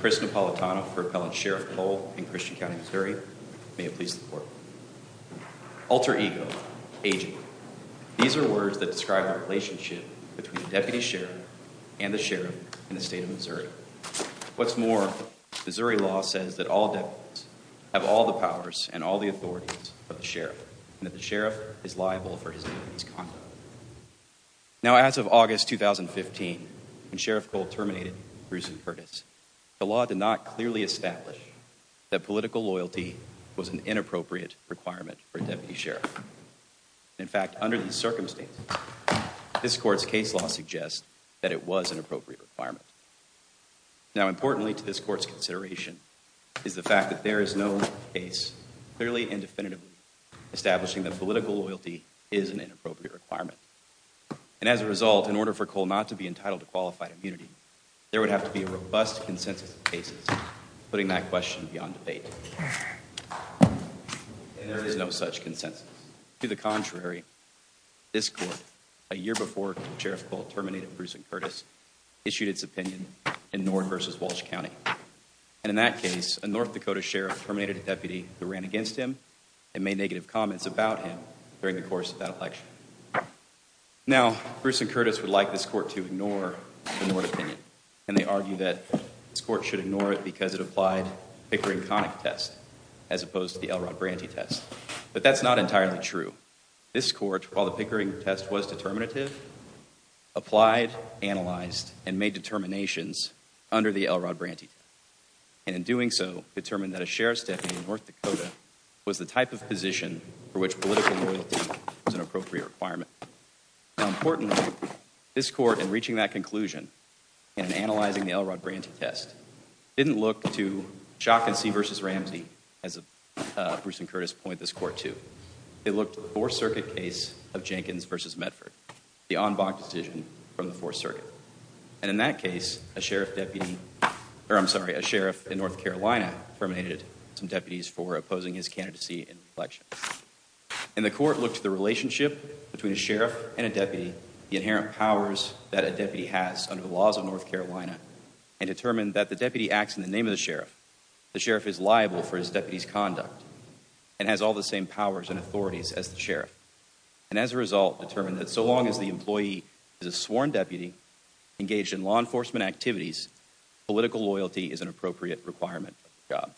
Chris Napolitano for Appellant Sheriff Cole in Christian County, Missouri, may it please the court. Alter ego. Aging. These are words that describe the relationship between the deputy sheriff and the sheriff in the state of Missouri. What's more, Missouri law says that all deputies have all the powers and all the authorities of the sheriff, and that the sheriff is liable for his deputy's conduct. Now, as of August 2015, when Sheriff Cole terminated Bruce Curtis, the law did not clearly establish that political loyalty was an inappropriate requirement for a deputy sheriff. In fact, under these circumstances, this court's case law suggests that it was an appropriate requirement. Now, importantly to this court's consideration is the fact that there is no case clearly and definitively establishing that political loyalty is an inappropriate requirement. And as a result, in order for Cole not to be entitled to qualified immunity, there would have to be a robust consensus of cases, putting that question beyond debate. And there is no such consensus. To the contrary, this court, a year before Sheriff Cole terminated Bruce and Curtis, issued its opinion in North v. Walsh County. And in that case, a North Dakota sheriff terminated a deputy who ran against him and made negative comments about him during the course of that election. Now, Bruce and Curtis would like this court to ignore the Nord opinion. And they argue that this court should ignore it because it applied Pickering-Connick test as opposed to the Elrod Branty test. But that's not entirely true. This court, while the Pickering test was determinative, applied, analyzed, and made determinations under the Elrod Branty test. And in doing so, determined that a sheriff's deputy in North Dakota was the type of position for which political loyalty was an appropriate requirement. Now, importantly, this court, in reaching that conclusion and in analyzing the Elrod Branty test, didn't look to Shock and See v. Ramsey, as Bruce and Curtis point this court to. They looked to the Fourth Circuit case of Jenkins v. Medford, the en banc decision from the Fourth Circuit. And in that case, a sheriff in North Carolina terminated some deputies for opposing his candidacy in the election. And the court looked to the relationship between a sheriff and a deputy, the inherent powers that a deputy has under the laws of North Carolina, and determined that the deputy acts in the name of the sheriff. The sheriff is liable for his deputy's conduct and has all the same powers and authorities as the sheriff. And as a result, determined that so long as the employee is a sworn deputy engaged in law enforcement activities, political loyalty is an appropriate requirement for the job.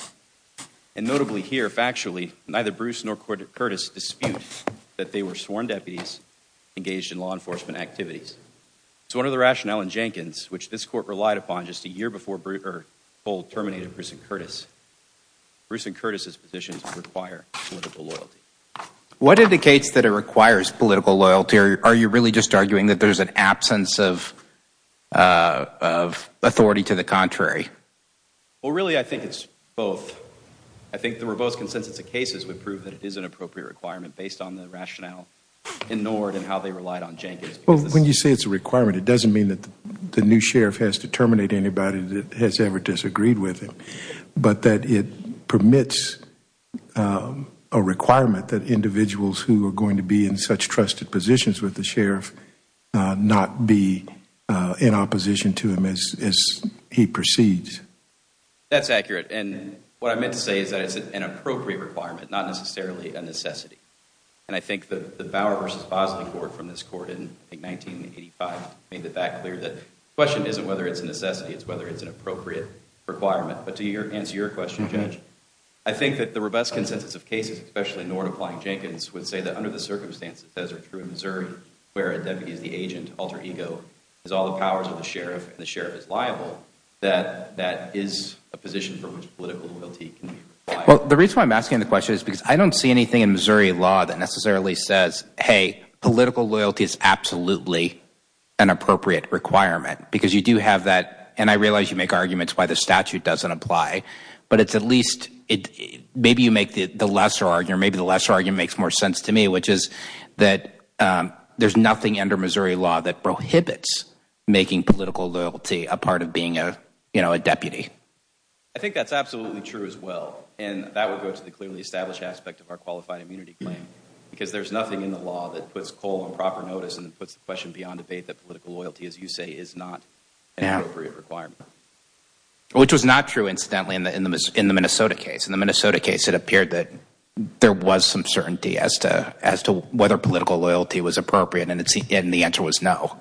And notably here, factually, neither Bruce nor Curtis dispute that they were sworn deputies engaged in law enforcement activities. It's one of the rationale in Jenkins, which this court relied upon just a year before Bruce, er, told terminated Bruce and Curtis. Bruce and Curtis's positions require political loyalty. What indicates that it requires political loyalty, or are you really just arguing that there's an absence of, er, of authority to the contrary? Well, really, I think it's both. I think the robust consensus of cases would prove that it is an appropriate requirement based on the rationale in Nord and how they relied on Jenkins. Well, when you say it's a requirement, it doesn't mean that the new sheriff has to terminate anybody that has ever disagreed with him, but that it permits, er, a requirement that individuals who are going to be in such trusted positions with the sheriff, er, not be, er, in opposition to him as, as he proceeds. That's accurate. And what I meant to say is that it's an appropriate requirement, not necessarily a necessity. And I think that the Bauer v. Bosley court from this court in 1985 made it that clear that the question isn't whether it's a necessity, it's whether it's an appropriate requirement. But to answer your question, Judge, I think that the robust consensus of cases, especially Nord applying Jenkins, would say that under the circumstances, as are true in Missouri, where a deputy is the agent, alter ego, has all the powers of the sheriff, and the sheriff is liable, that that is a position for which political loyalty can be required. Well, the reason why I'm asking the question is because I don't see anything in Missouri says, hey, political loyalty is absolutely an appropriate requirement. Because you do have that, and I realize you make arguments why the statute doesn't apply, but it's at least, maybe you make the lesser argument, or maybe the lesser argument makes more sense to me, which is that there's nothing under Missouri law that prohibits making political loyalty a part of being a, you know, a deputy. I think that's absolutely true as well. And that would go to the clearly established aspect of our qualified immunity claim. Because there's nothing in the law that puts Cole on proper notice and puts the question beyond debate that political loyalty, as you say, is not an appropriate requirement. Which was not true, incidentally, in the Minnesota case. In the Minnesota case, it appeared that there was some certainty as to whether political loyalty was appropriate, and the answer was no.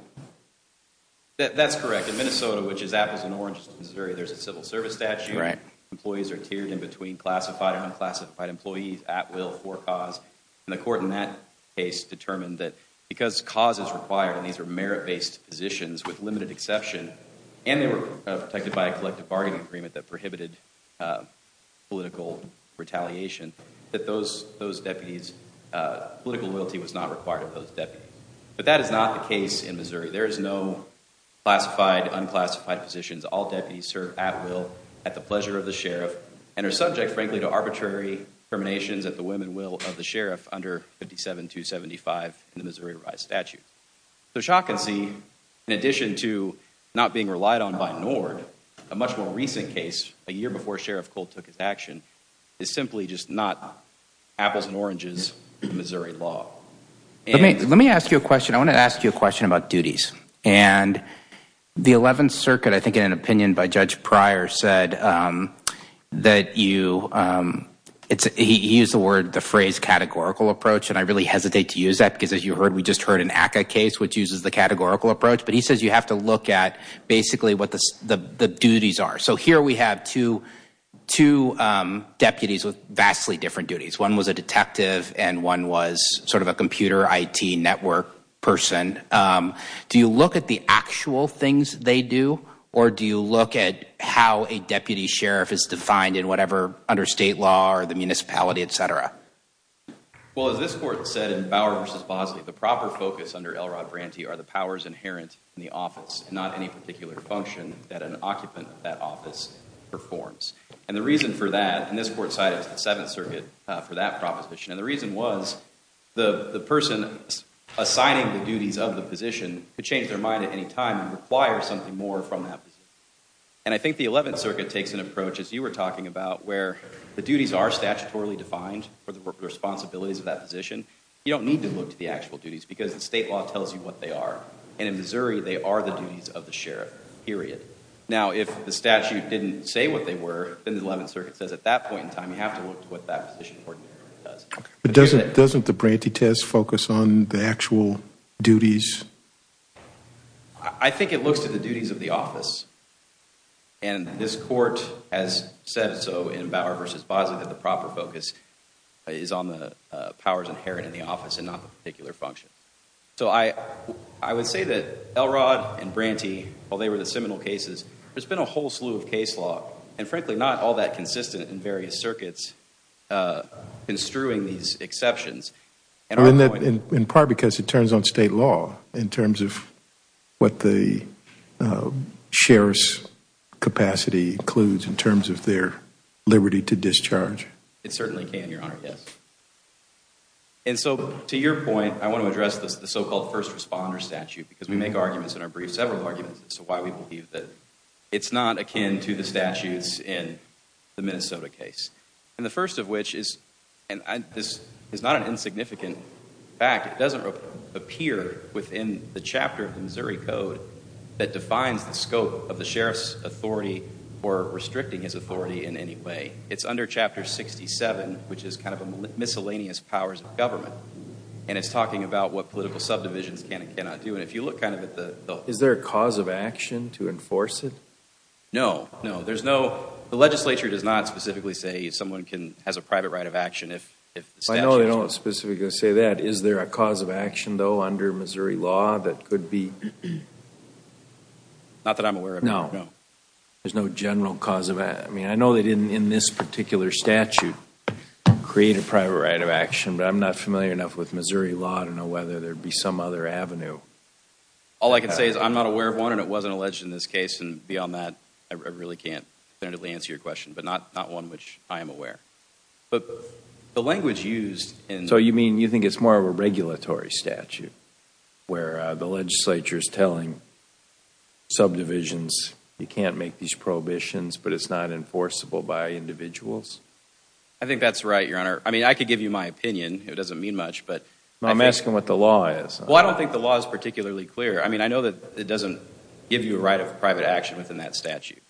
That's correct. In Minnesota, which is apples and oranges to Missouri, there's a civil service statute, right? Employees are tiered in between classified and unclassified employees at will for a cause. And the court in that case determined that because cause is required, and these are merit-based positions with limited exception, and they were protected by a collective bargaining agreement that prohibited political retaliation, that those deputies, political loyalty was not required of those deputies. But that is not the case in Missouri. There is no classified, unclassified positions. All deputies serve at will, at the pleasure of the sheriff, and are subject, frankly, to arbitrary terminations at the whim and will of the sheriff under 57-275 in the Missouri rise statute. The shock and see, in addition to not being relied on by NORD, a much more recent case, a year before Sheriff Cole took his action, is simply just not apples and oranges to Missouri law. Let me ask you a question. I want to ask you a question about duties. And the 11th Circuit, I think in an opinion by Judge Pryor, said that you, he used the word, the phrase, categorical approach, and I really hesitate to use that because, as you heard, we just heard an ACCA case which uses the categorical approach. But he says you have to look at basically what the duties are. So here we have two deputies with vastly different duties. One was a detective and one was sort of a computer IT network person. Do you look at the actual things they do, or do you look at how a deputy sheriff is defined in whatever, under state law or the municipality, et cetera? Well, as this court said in Bauer v. Bosley, the proper focus under L. Rod Branty are the powers inherent in the office, not any particular function that an occupant of that office performs. And the reason for that, and this court cited the 7th Circuit for that proposition, and the reason was the person assigning the duties of the position could change their mind at any time and require something more from that position. And I think the 11th Circuit takes an approach, as you were talking about, where the duties are statutorily defined for the responsibilities of that position. You don't need to look to the actual duties because the state law tells you what they are. And in Missouri, they are the duties of the sheriff, period. Now, if the statute didn't say what they were, then the 11th Circuit says at that point in time what that position does. But doesn't the Branty test focus on the actual duties? I think it looks to the duties of the office. And this court has said so in Bauer v. Bosley that the proper focus is on the powers inherent in the office and not the particular function. So I would say that L. Rod and Branty, while they were the seminal cases, there's been a whole slew of case law and, frankly, not all that consistent in various circuits construing these exceptions. And our point I mean that in part because it turns on state law in terms of what the sheriff's capacity includes in terms of their liberty to discharge. It certainly can, Your Honor, yes. And so to your point, I want to address the so-called first responder statute because we make arguments in our briefs, several arguments, as to why we believe that it's not akin to the statutes in the Minnesota case. And the first of which is, and this is not an insignificant fact, it doesn't appear within the chapter of the Missouri Code that defines the scope of the sheriff's authority or restricting his authority in any way. It's under Chapter 67, which is kind of a miscellaneous powers of government. And it's talking about what political subdivisions can and cannot do. And if you look kind of at the Is there a cause of action to enforce it? No. No, there's no. The legislature does not specifically say someone has a private right of action if the statute I know they don't specifically say that. Is there a cause of action, though, under Missouri law that could be Not that I'm aware of. No. No. There's no general cause of action. I mean, I know they didn't, in this particular statute, create a private right of action, but I'm not familiar enough with Missouri law to know whether there would be some other avenue. All I can say is I'm not aware of one, and it wasn't alleged in this case. And beyond that, I really can't definitively answer your question. But not one which I am aware. But the language used in So you mean you think it's more of a regulatory statute, where the legislature is telling subdivisions, you can't make these prohibitions, but it's not enforceable by individuals? I think that's right, Your Honor. I mean, I could give you my opinion. It doesn't mean much, but I'm asking what the law is. Well, I don't think the law is particularly clear. I mean, I know that it doesn't give you a right of private action within that statute.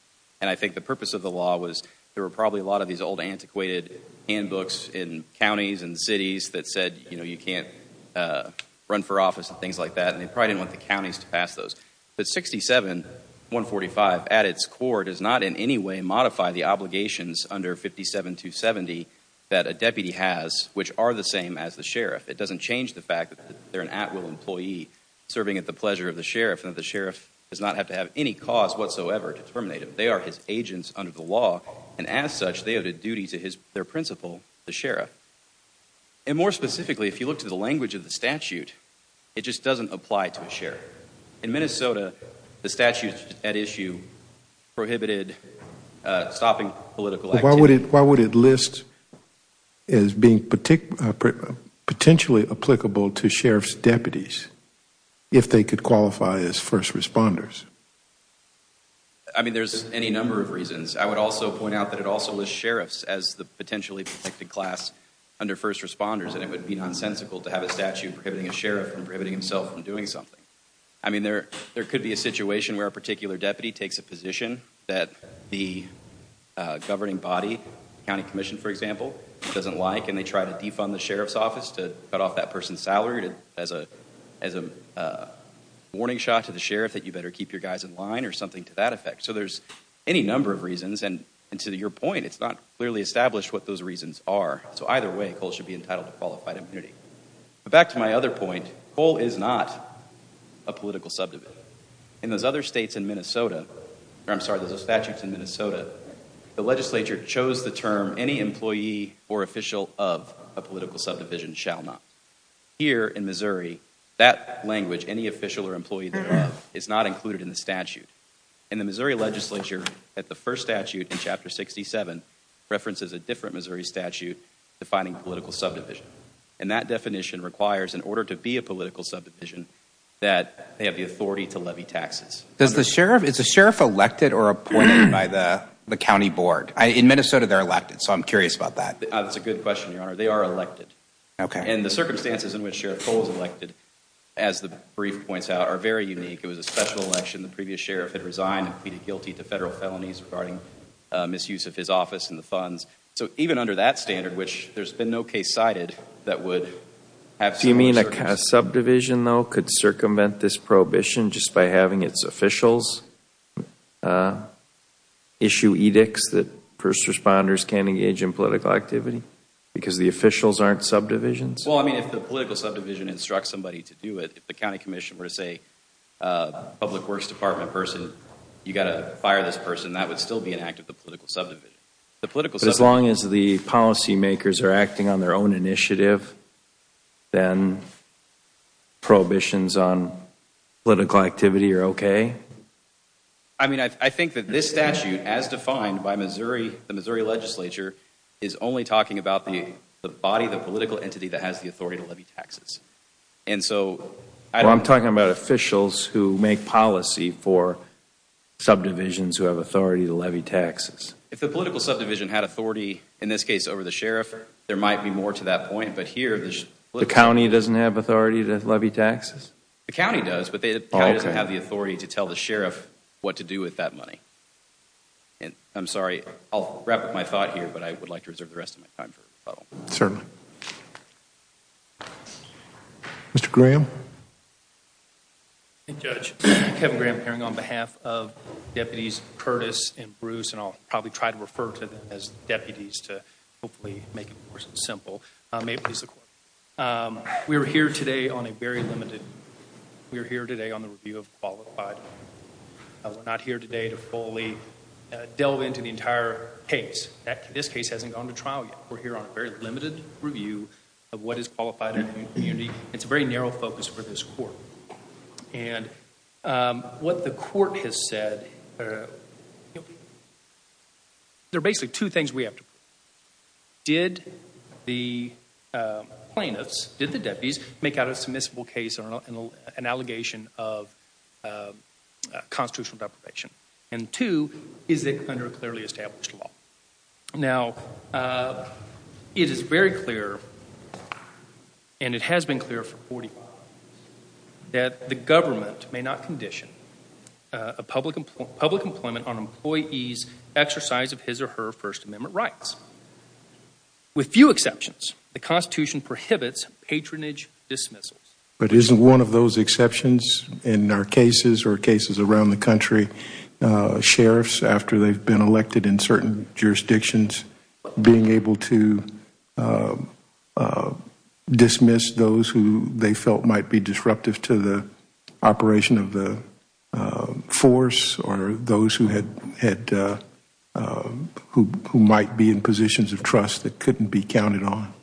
And I think the purpose of the law was there were probably a lot of these old antiquated handbooks in counties and cities that said, you know, you can't run for office and things like that. And they probably didn't want the counties to pass those. But 67-145, at its core, does not in any way modify the obligations under 57-270 that a deputy has, which are the same as the sheriff. It doesn't change the fact that they're an at-will employee serving at the pleasure of the sheriff, and the sheriff does not have to have any cause whatsoever to terminate him. They are his agents under the law. And as such, they have a duty to their principal, the sheriff. And more specifically, if you look to the language of the statute, it just doesn't apply to a sheriff. In Minnesota, the statute at issue prohibited stopping political activity. Why would it list as being potentially applicable to sheriff's deputies if they could qualify as first responders? I mean, there's any number of reasons. I would also point out that it also lists sheriffs as the potentially protected class under first responders, and it would be nonsensical to have a statute prohibiting a sheriff from prohibiting himself from doing something. I mean, there could be a situation where a particular deputy takes a position that the governing body, the county commission, for example, doesn't like, and they try to defund the sheriff's office to cut off that person's salary as a warning shot to the sheriff that you better keep your guys in line or something to that effect. So there's any number of reasons, and to your point, it's not clearly established what those reasons are. So either way, Cole should be entitled to qualified immunity. But back to my other point, Cole is not a political subdivision. In those other statutes in Minnesota, the legislature chose the term any employee or official of a political subdivision shall not. Here in Missouri, that language, any official or employee thereof, is not included in the statute. And the Missouri legislature, at the first statute in Chapter 67, references a different Missouri statute defining political subdivision. And that definition requires, in order to be a political subdivision, that they have the authority to levy taxes. Is the sheriff elected or appointed by the county board? In Minnesota, they're elected. So I'm curious about that. That's a good question, Your Honor. They are elected. Okay. And the circumstances in which Sheriff Cole is elected, as the brief points out, are very unique. It was a special election. The previous sheriff had resigned and pleaded guilty to federal felonies regarding misuse of his office and the funds. So even under that standard, which there's been no case cited that would have similar circumstances. Does that mean a subdivision, though, could circumvent this prohibition just by having its officials issue edicts that first responders can't engage in political activity? Because the officials aren't subdivisions? Well, I mean, if the political subdivision instructs somebody to do it, if the county commission were to say, public works department person, you've got to fire this person, that would still be an act of the political subdivision. But as long as the policy makers are acting on their own initiative, then prohibitions on political activity are okay? I mean, I think that this statute, as defined by the Missouri legislature, is only talking about the body, the political entity that has the authority to levy taxes. And so... Well, I'm talking about officials who make policy for subdivisions who have authority to levy taxes. If the political subdivision had authority, in this case, over the sheriff, there might be more to that point. But here... The county doesn't have authority to levy taxes? The county does, but the county doesn't have the authority to tell the sheriff what to do with that money. And I'm sorry, I'll wrap up my thought here, but I would like to reserve the rest of my time for rebuttal. Certainly. Mr. Graham? Thank you, Judge. Kevin Graham appearing on behalf of Deputies Curtis and Bruce, and I'll probably try to refer to them as deputies to hopefully make it more simple. May it please the Court. We are here today on a very limited... We are here today on the review of qualified. We're not here today to fully delve into the entire case. This case hasn't gone to trial yet. We're here on a very limited review of what is qualified in a community. It's a very narrow focus for this Court. And what the Court has said... There are basically two things we have to... Did the plaintiffs, did the deputies, make out a submissible case or an allegation of constitutional deprivation? And two, is it under a clearly established law? Now, it is very clear, and it has been clear for 40 years, that the government may not condition public employment on employees' exercise of his or her First Amendment rights. With few exceptions, the Constitution prohibits patronage dismissals. But isn't one of those exceptions, in our cases or cases around the country, sheriffs after they've been elected in certain jurisdictions, being able to dismiss those who they felt might be disruptive to the operation of the force or those who might be in positions of trust that couldn't be counted on?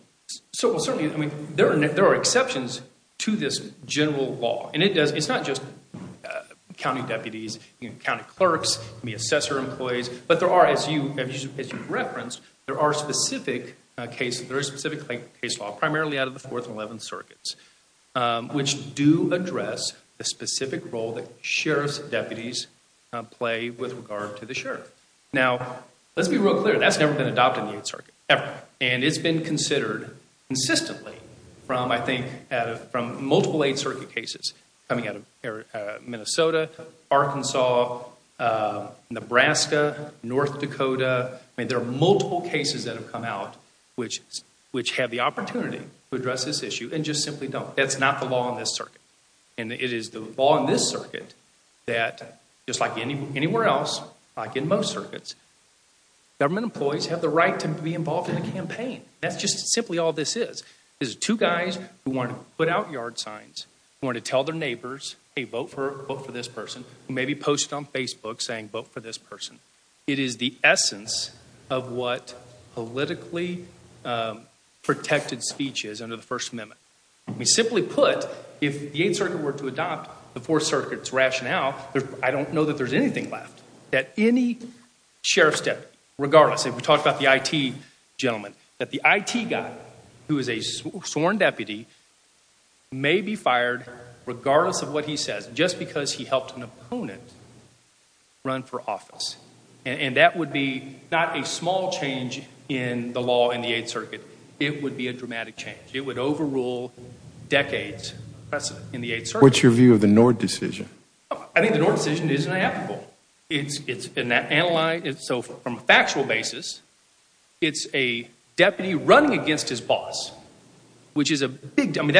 Certainly, there are exceptions to this general law. And it's not just county deputies, county clerks, assessor employees, but there are, as you referenced, there are specific cases, there is specific case law, primarily out of the Fourth and Eleventh Circuits, which do address the specific role that sheriff's deputies play with regard to the sheriff. Now, let's be real clear, that's never been adopted in the Eighth Circuit, ever. And it's been considered consistently from, I think, from multiple Eighth Circuit cases coming out of Minnesota, Arkansas, Nebraska, North Dakota, I mean, there are multiple cases that have come out which have the opportunity to address this issue and just simply don't. That's not the law in this circuit. And it is the law in this circuit that, just like anywhere else, like in most circuits, government employees have the right to be involved in the campaign. That's just simply all this is, is two guys who want to put out yard signs, who want to tell their neighbors, hey, vote for this person, who maybe posted on Facebook saying vote for this person. It is the essence of what politically protected speech is under the First Amendment. I mean, simply put, if the Eighth Circuit were to adopt the Fourth Circuit's rationale, I don't know that there's anything left that any sheriff's deputy, regardless, if we talk about the IT gentleman, that the IT guy who is a sworn deputy may be fired regardless of what he says just because he helped an opponent run for office. And that would be not a small change in the law in the Eighth Circuit. It would be a dramatic change. It would overrule decades in the Eighth Circuit. What's your view of the Nord decision? I think the Nord decision is an applicable. It's been analyzed. So from a factual basis, it's a deputy running against his boss, which is a big deal. I mean,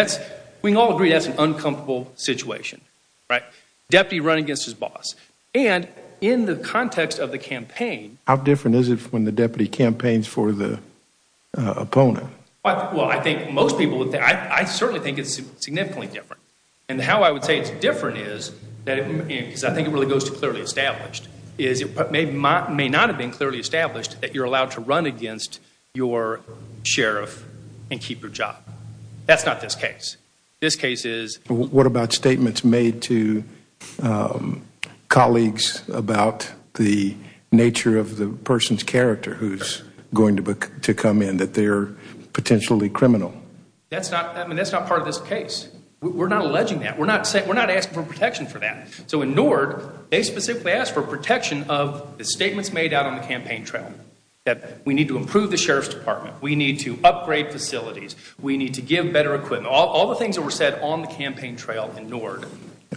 we can all agree that's an uncomfortable situation, right? Deputy running against his boss. And in the context of the campaign How different is it when the deputy campaigns for the opponent? Well, I think most people would think, I certainly think it's significantly different. And how I would say it's different is, because I think it really goes to clearly established, is it may not have been clearly established that you're allowed to run against your sheriff and keep your job. That's not this case. This case is... What about statements made to colleagues about the nature of the person's character who's going to come in, that they're potentially criminal? That's not part of this case. We're not alleging that. We're not asking for protection for that. So in Nord, they specifically asked for protection of the statements made out on the campaign trail. That we need to improve the sheriff's department. We need to upgrade facilities. We need to give better equipment. All the things that were said on the campaign trail in Nord.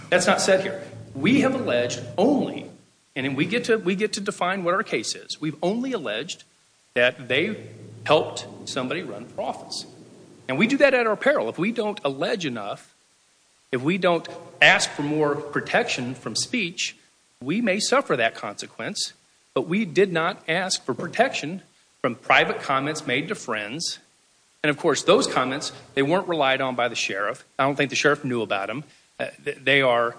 That's not said here. We have alleged only, and we get to define what our case is. We've only alleged that they helped somebody run for office. And we do that at our peril. If we don't allege enough, if we don't ask for more protection from speech, we may suffer that consequence. But we did not ask for protection from private comments made to friends. And of course, those comments, they weren't relied on by the sheriff. I don't think the sheriff knew about them. They are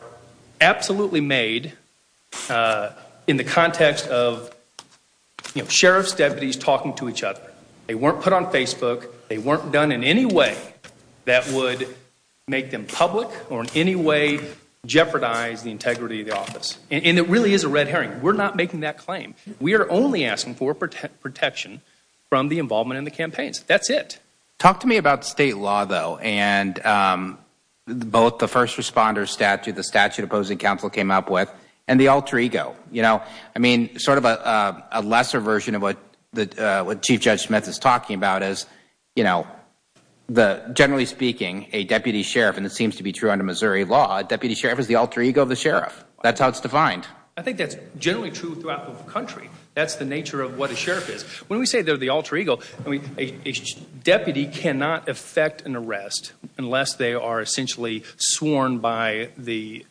absolutely made in the context of sheriff's deputies talking to each other. They weren't put on Facebook. They weren't done in any way that would make them public, or in any way jeopardize the integrity of the office. And it really is a red herring. We're not making that claim. We are only asking for protection from the involvement in the campaigns. That's it. Talk to me about state law, though. And both the first responder statute, the statute opposing counsel came up with, and the alter ego. I mean, sort of a lesser version of what Chief Judge Smith is talking about is, you know, generally speaking, a deputy sheriff, and it seems to be true under Missouri law, a deputy sheriff is the alter ego of the sheriff. That's how it's defined. I think that's generally true throughout the country. That's the nature of what a sheriff is. When we say they're the alter ego, a deputy cannot effect an arrest unless they are essentially sworn by the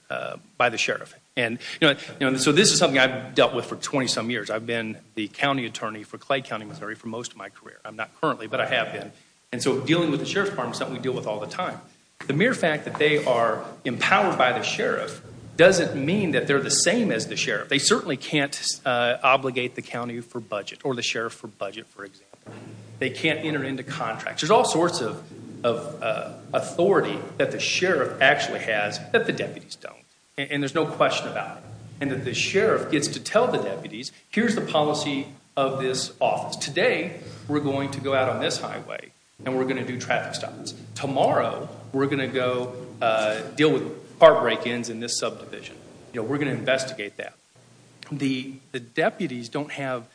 sheriff. So this is something I've dealt with for 20-some years. I've been the county attorney for Clay County, Missouri, for most of my career. I'm not currently, but I have been. And so dealing with the sheriff's department is something we deal with all the time. The mere fact that they are empowered by the sheriff doesn't mean that they're the same as the sheriff. They certainly can't obligate the county for budget or the sheriff for budget, for example. They can't enter into contracts. There's all sorts of authority that the sheriff actually has that the deputies don't. And there's no question about it. And that the sheriff gets to tell the deputies, here's the policy of this office. Today we're going to go out on this highway and we're going to do traffic stops. Tomorrow we're going to go deal with car break-ins in this subdivision. We're going to investigate that. The deputies don't have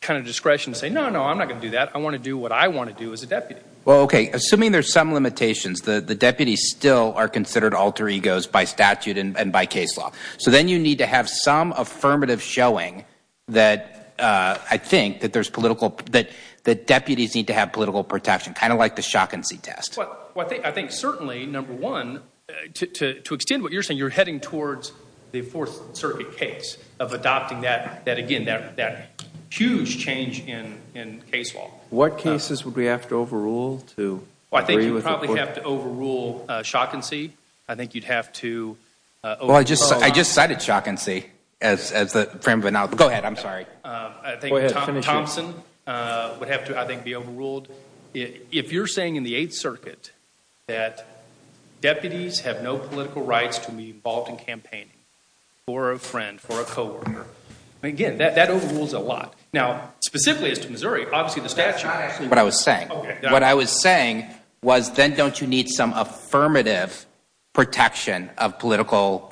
kind of discretion to say, no, no, I'm not going to do that. I want to do what I want to do as a deputy. Well, okay, assuming there's some limitations, the deputies still are considered alter egos by statute and by case law. So then you need to have some affirmative showing that I think that there's political, that deputies need to have political protection, kind of like the shock and see test. I think certainly, number one, to extend what you're saying, you're heading towards the Fourth Circuit case of adopting that, again, that huge change in case law. What cases would we have to overrule? I think you'd probably have to overrule shock and see. I think you'd have to. I just cited shock and see. Go ahead, I'm sorry. I think Thompson would have to, I think, be overruled. If you're saying in the Eighth Circuit that deputies have no political rights to be involved in campaigning for a friend, for a coworker, again, that overrules a lot. Now, specifically as to Missouri, obviously the statute. That's not actually what I was saying. What I was saying was then don't you need some affirmative protection of political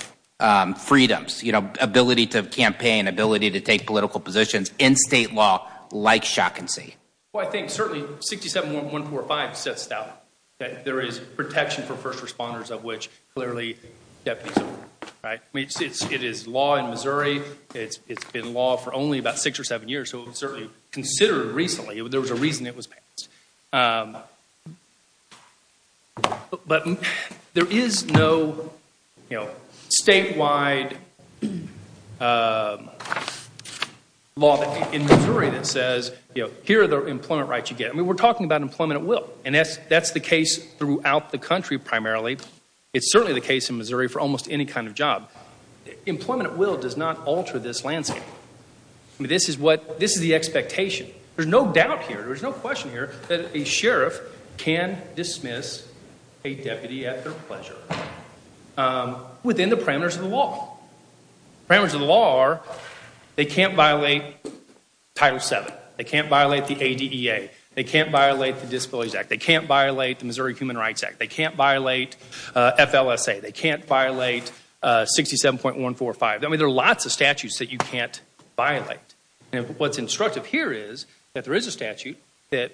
freedoms, you know, ability to campaign, ability to take political positions in state law like shock and see. Well, I think certainly 67145 sets it out, that there is protection for first responders of which clearly deputies are. It is law in Missouri. It's been law for only about six or seven years, so it was certainly considered recently. There was a reason it was passed. But there is no statewide law in Missouri that says, you know, here are the employment rights you get. I mean, we're talking about employment at will, and that's the case throughout the country primarily. It's certainly the case in Missouri for almost any kind of job. Employment at will does not alter this landscape. This is the expectation. There's no doubt here. There's no question here that a sheriff can dismiss a deputy at their pleasure within the parameters of the law. Parameters of the law are they can't violate Title VII. They can't violate the ADEA. They can't violate the Disabilities Act. They can't violate the Missouri Human Rights Act. They can't violate FLSA. They can't violate 67.145. I mean, there are lots of statutes that you can't violate. And what's instructive here is that there is a statute that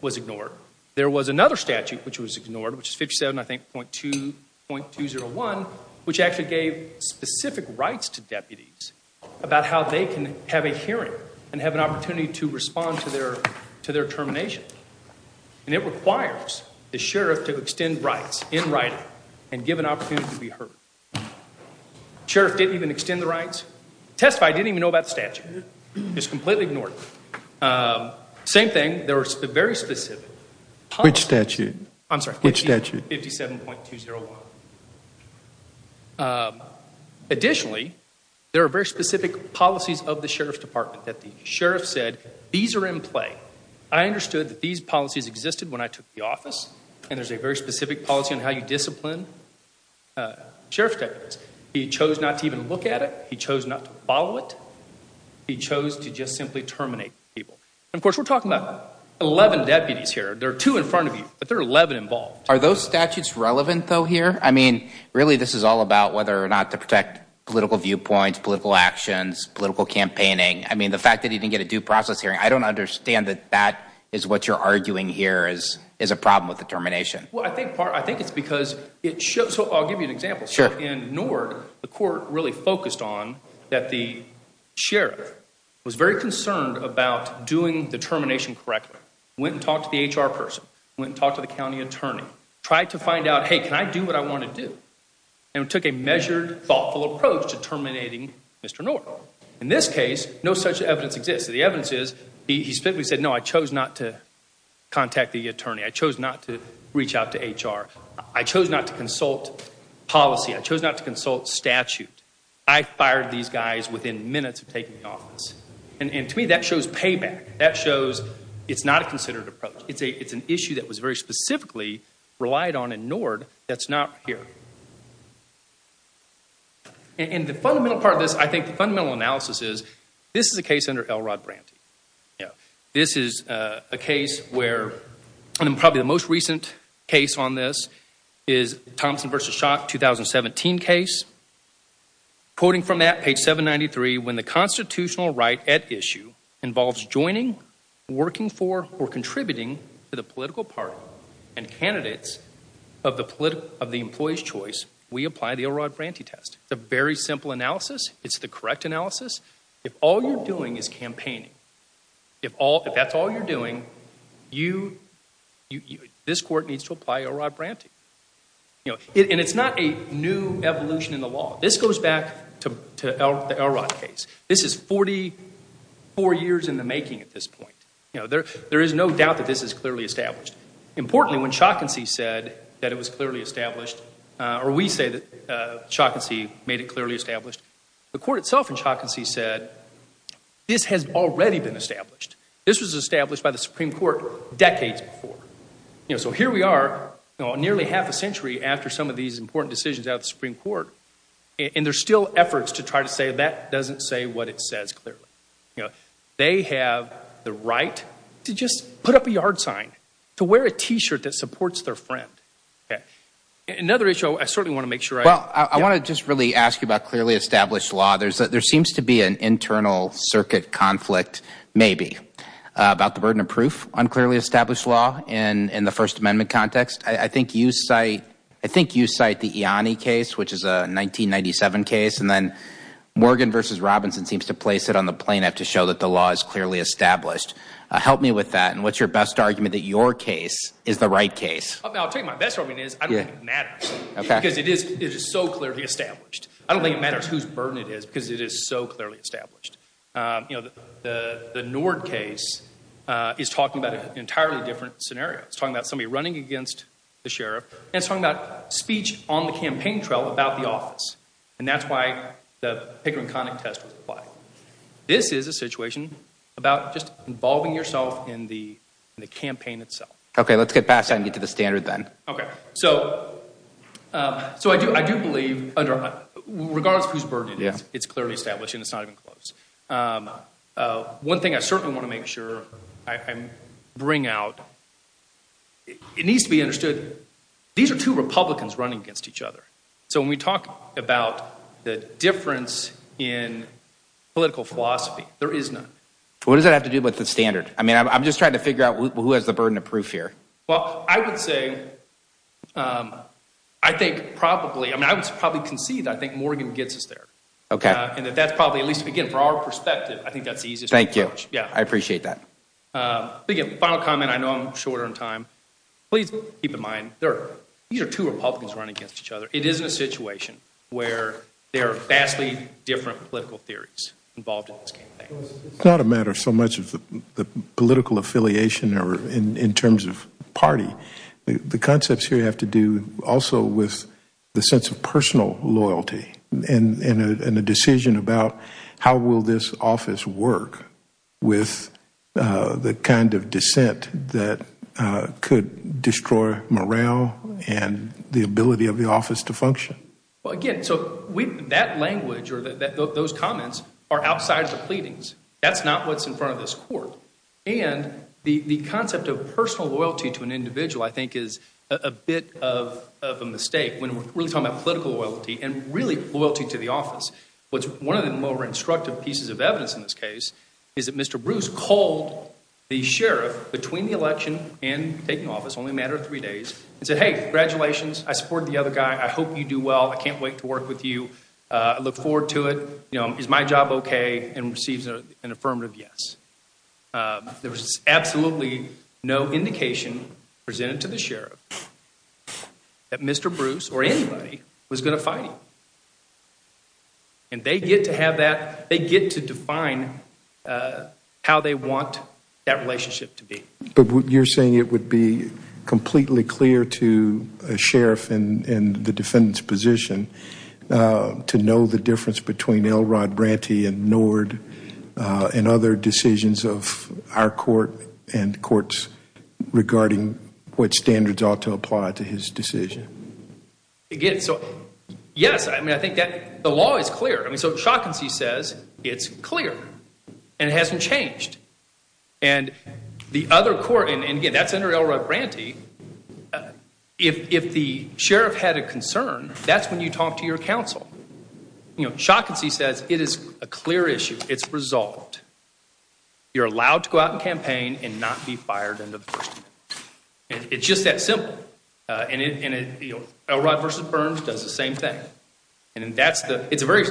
was ignored. There was another statute which was ignored, which is 57, I think, .201, which actually gave specific rights to deputies about how they can have a hearing and have an opportunity to respond to their termination. And it requires the sheriff to extend rights in writing and give an opportunity to be heard. The sheriff didn't even extend the rights. Testify didn't even know about the statute. It was completely ignored. Same thing. There were very specific policies. Which statute? I'm sorry. Which statute? 57.201. Additionally, there are very specific policies of the sheriff's department that the sheriff said, these are in play. I understood that these policies existed when I took the office, and there's a very specific policy on how you discipline sheriff's deputies. He chose not to even look at it. He chose not to follow it. He chose to just simply terminate people. And, of course, we're talking about 11 deputies here. There are two in front of you, but there are 11 involved. Are those statutes relevant, though, here? I mean, really this is all about whether or not to protect political viewpoints, political actions, political campaigning. I mean, the fact that he didn't get a due process hearing, I don't understand that that is what you're arguing here is a problem with the termination. Well, I think it's because it shows. So I'll give you an example. Sure. In Nord, the court really focused on that the sheriff was very concerned about doing the termination correctly. Went and talked to the HR person. Went and talked to the county attorney. Tried to find out, hey, can I do what I want to do? And took a measured, thoughtful approach to terminating Mr. Nord. In this case, no such evidence exists. The evidence is he simply said, no, I chose not to contact the attorney. I chose not to reach out to HR. I chose not to consult policy. I chose not to consult statute. I fired these guys within minutes of taking office. And to me, that shows payback. That shows it's not a considered approach. It's an issue that was very specifically relied on in Nord that's not here. And the fundamental part of this, I think the fundamental analysis is, this is a case under L. Rod Branty. This is a case where, and probably the most recent case on this is Thompson v. Schock, 2017 case. Quoting from that, page 793, when the constitutional right at issue involves joining, working for, or contributing to the political party and candidates of the employee's choice, we apply the L. Rod Branty test. It's a very simple analysis. It's the correct analysis. If all you're doing is campaigning, if that's all you're doing, this court needs to apply L. Rod Branty. And it's not a new evolution in the law. This goes back to the L. Rod case. This is 44 years in the making at this point. There is no doubt that this is clearly established. Importantly, when Schock and See said that it was clearly established, or we say that Schock and See made it clearly established, the court itself in Schock and See said, this has already been established. This was established by the Supreme Court decades before. So here we are nearly half a century after some of these important decisions out of the Supreme Court, and there's still efforts to try to say that doesn't say what it says clearly. They have the right to just put up a yard sign, to wear a T-shirt that supports their friend. Another issue, I certainly want to make sure I Well, I want to just really ask you about clearly established law. There seems to be an internal circuit conflict, maybe, about the burden of proof on clearly established law in the First Amendment context. I think you cite the Ianni case, which is a 1997 case, and then Morgan v. Robinson seems to place it on the plaintiff to show that the law is clearly established. Help me with that, and what's your best argument that your case is the right case? I'll tell you my best argument is I don't think it matters because it is so clearly established. I don't think it matters whose burden it is because it is so clearly established. The Nord case is talking about an entirely different scenario. It's talking about somebody running against the sheriff, and it's talking about speech on the campaign trail about the office, and that's why the Pickering-Connick test was applied. This is a situation about just involving yourself in the campaign itself. Okay, let's get past that and get to the standard then. Okay, so I do believe, regardless of whose burden it is, it's clearly established, and it's not even close. One thing I certainly want to make sure I bring out, it needs to be understood, these are two Republicans running against each other. So when we talk about the difference in political philosophy, there is none. What does that have to do with the standard? I mean, I'm just trying to figure out who has the burden of proof here. Well, I would say, I think probably, I mean, I would probably concede I think Morgan gets us there. Okay. And that's probably at least, again, from our perspective, I think that's the easiest approach. Thank you. Yeah. I appreciate that. Final comment. I know I'm short on time. Please keep in mind, these are two Republicans running against each other. It is a situation where there are vastly different political theories involved in this campaign. It's not a matter so much of the political affiliation or in terms of party. The concepts here have to do also with the sense of personal loyalty and a decision about how will this office work with the kind of dissent that could destroy morale and the ability of the office to function. Well, again, so that language or those comments are outside the pleadings. That's not what's in front of this court. And the concept of personal loyalty to an individual, I think, is a bit of a mistake when we're really talking about political loyalty and really loyalty to the office. One of the more instructive pieces of evidence in this case is that Mr. Bruce called the sheriff between the election and taking office, only a matter of three days, and said, Hey, congratulations. I support the other guy. I hope you do well. I can't wait to work with you. I look forward to it. Is my job okay? And receives an affirmative yes. There was absolutely no indication presented to the sheriff that Mr. Bruce or anybody was going to fight him. And they get to define how they want that relationship to be. But you're saying it would be completely clear to a sheriff in the defendant's position to know the difference between Elrod Branty and Nord and other decisions of our court and courts regarding what standards ought to apply to his decision? Yes. I mean, I think the law is clear. I mean, so Shawkins says it's clear and it hasn't changed. And the other court, and, again, that's under Elrod Branty, if the sheriff had a concern, that's when you talk to your counsel. You know, Shawkins says it is a clear issue. It's resolved. You're allowed to go out and campaign and not be fired under the First Amendment. It's just that simple. And Elrod v. Burns does the same thing. And it's a very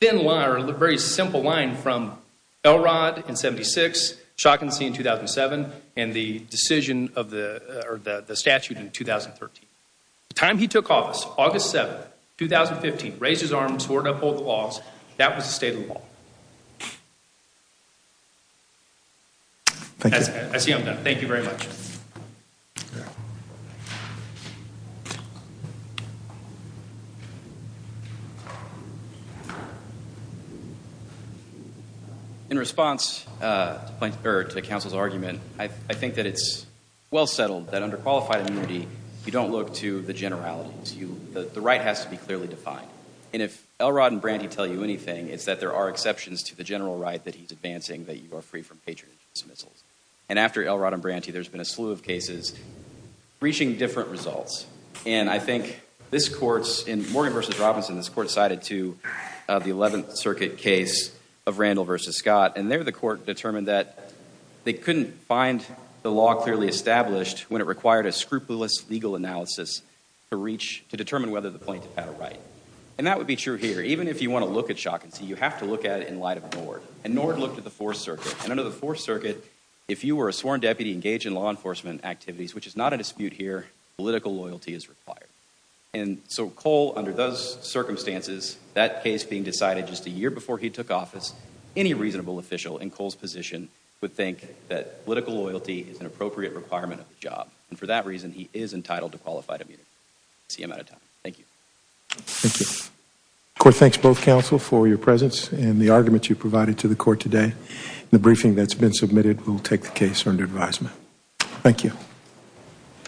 thin line or a very simple line from Elrod in 76, Shawkins in 2007, and the decision of the statute in 2013. The time he took office, August 7, 2015, raised his arms, swore to uphold the laws, that was the state of the law. I see I'm done. Thank you very much. Thank you. In response to the counsel's argument, I think that it's well settled that under qualified immunity, you don't look to the generalities. The right has to be clearly defined. And if Elrod and Branty tell you anything, it's that there are exceptions to the general right that he's advancing, that you are free from patronage and dismissals. And after Elrod and Branty, there's been a slew of cases reaching different results. And I think this court's, in Morgan v. Robinson, this court sided to the 11th Circuit case of Randall v. Scott. And there the court determined that they couldn't find the law clearly established when it required a scrupulous legal analysis to reach, to determine whether the plaintiff had a right. And that would be true here. Even if you want to look at Shawkins, you have to look at it in light of Nord. And Nord looked at the Fourth Circuit. And under the Fourth Circuit, if you were a sworn deputy engaged in law enforcement activities, which is not a dispute here, political loyalty is required. And so Cole, under those circumstances, that case being decided just a year before he took office, any reasonable official in Cole's position would think that political loyalty is an appropriate requirement of the job. And for that reason, he is entitled to qualified immunity. I see I'm out of time. Thank you. Thank you. The court thanks both counsel for your presence and the argument you provided to the court today. The briefing that's been submitted will take the case under advisement. Thank you.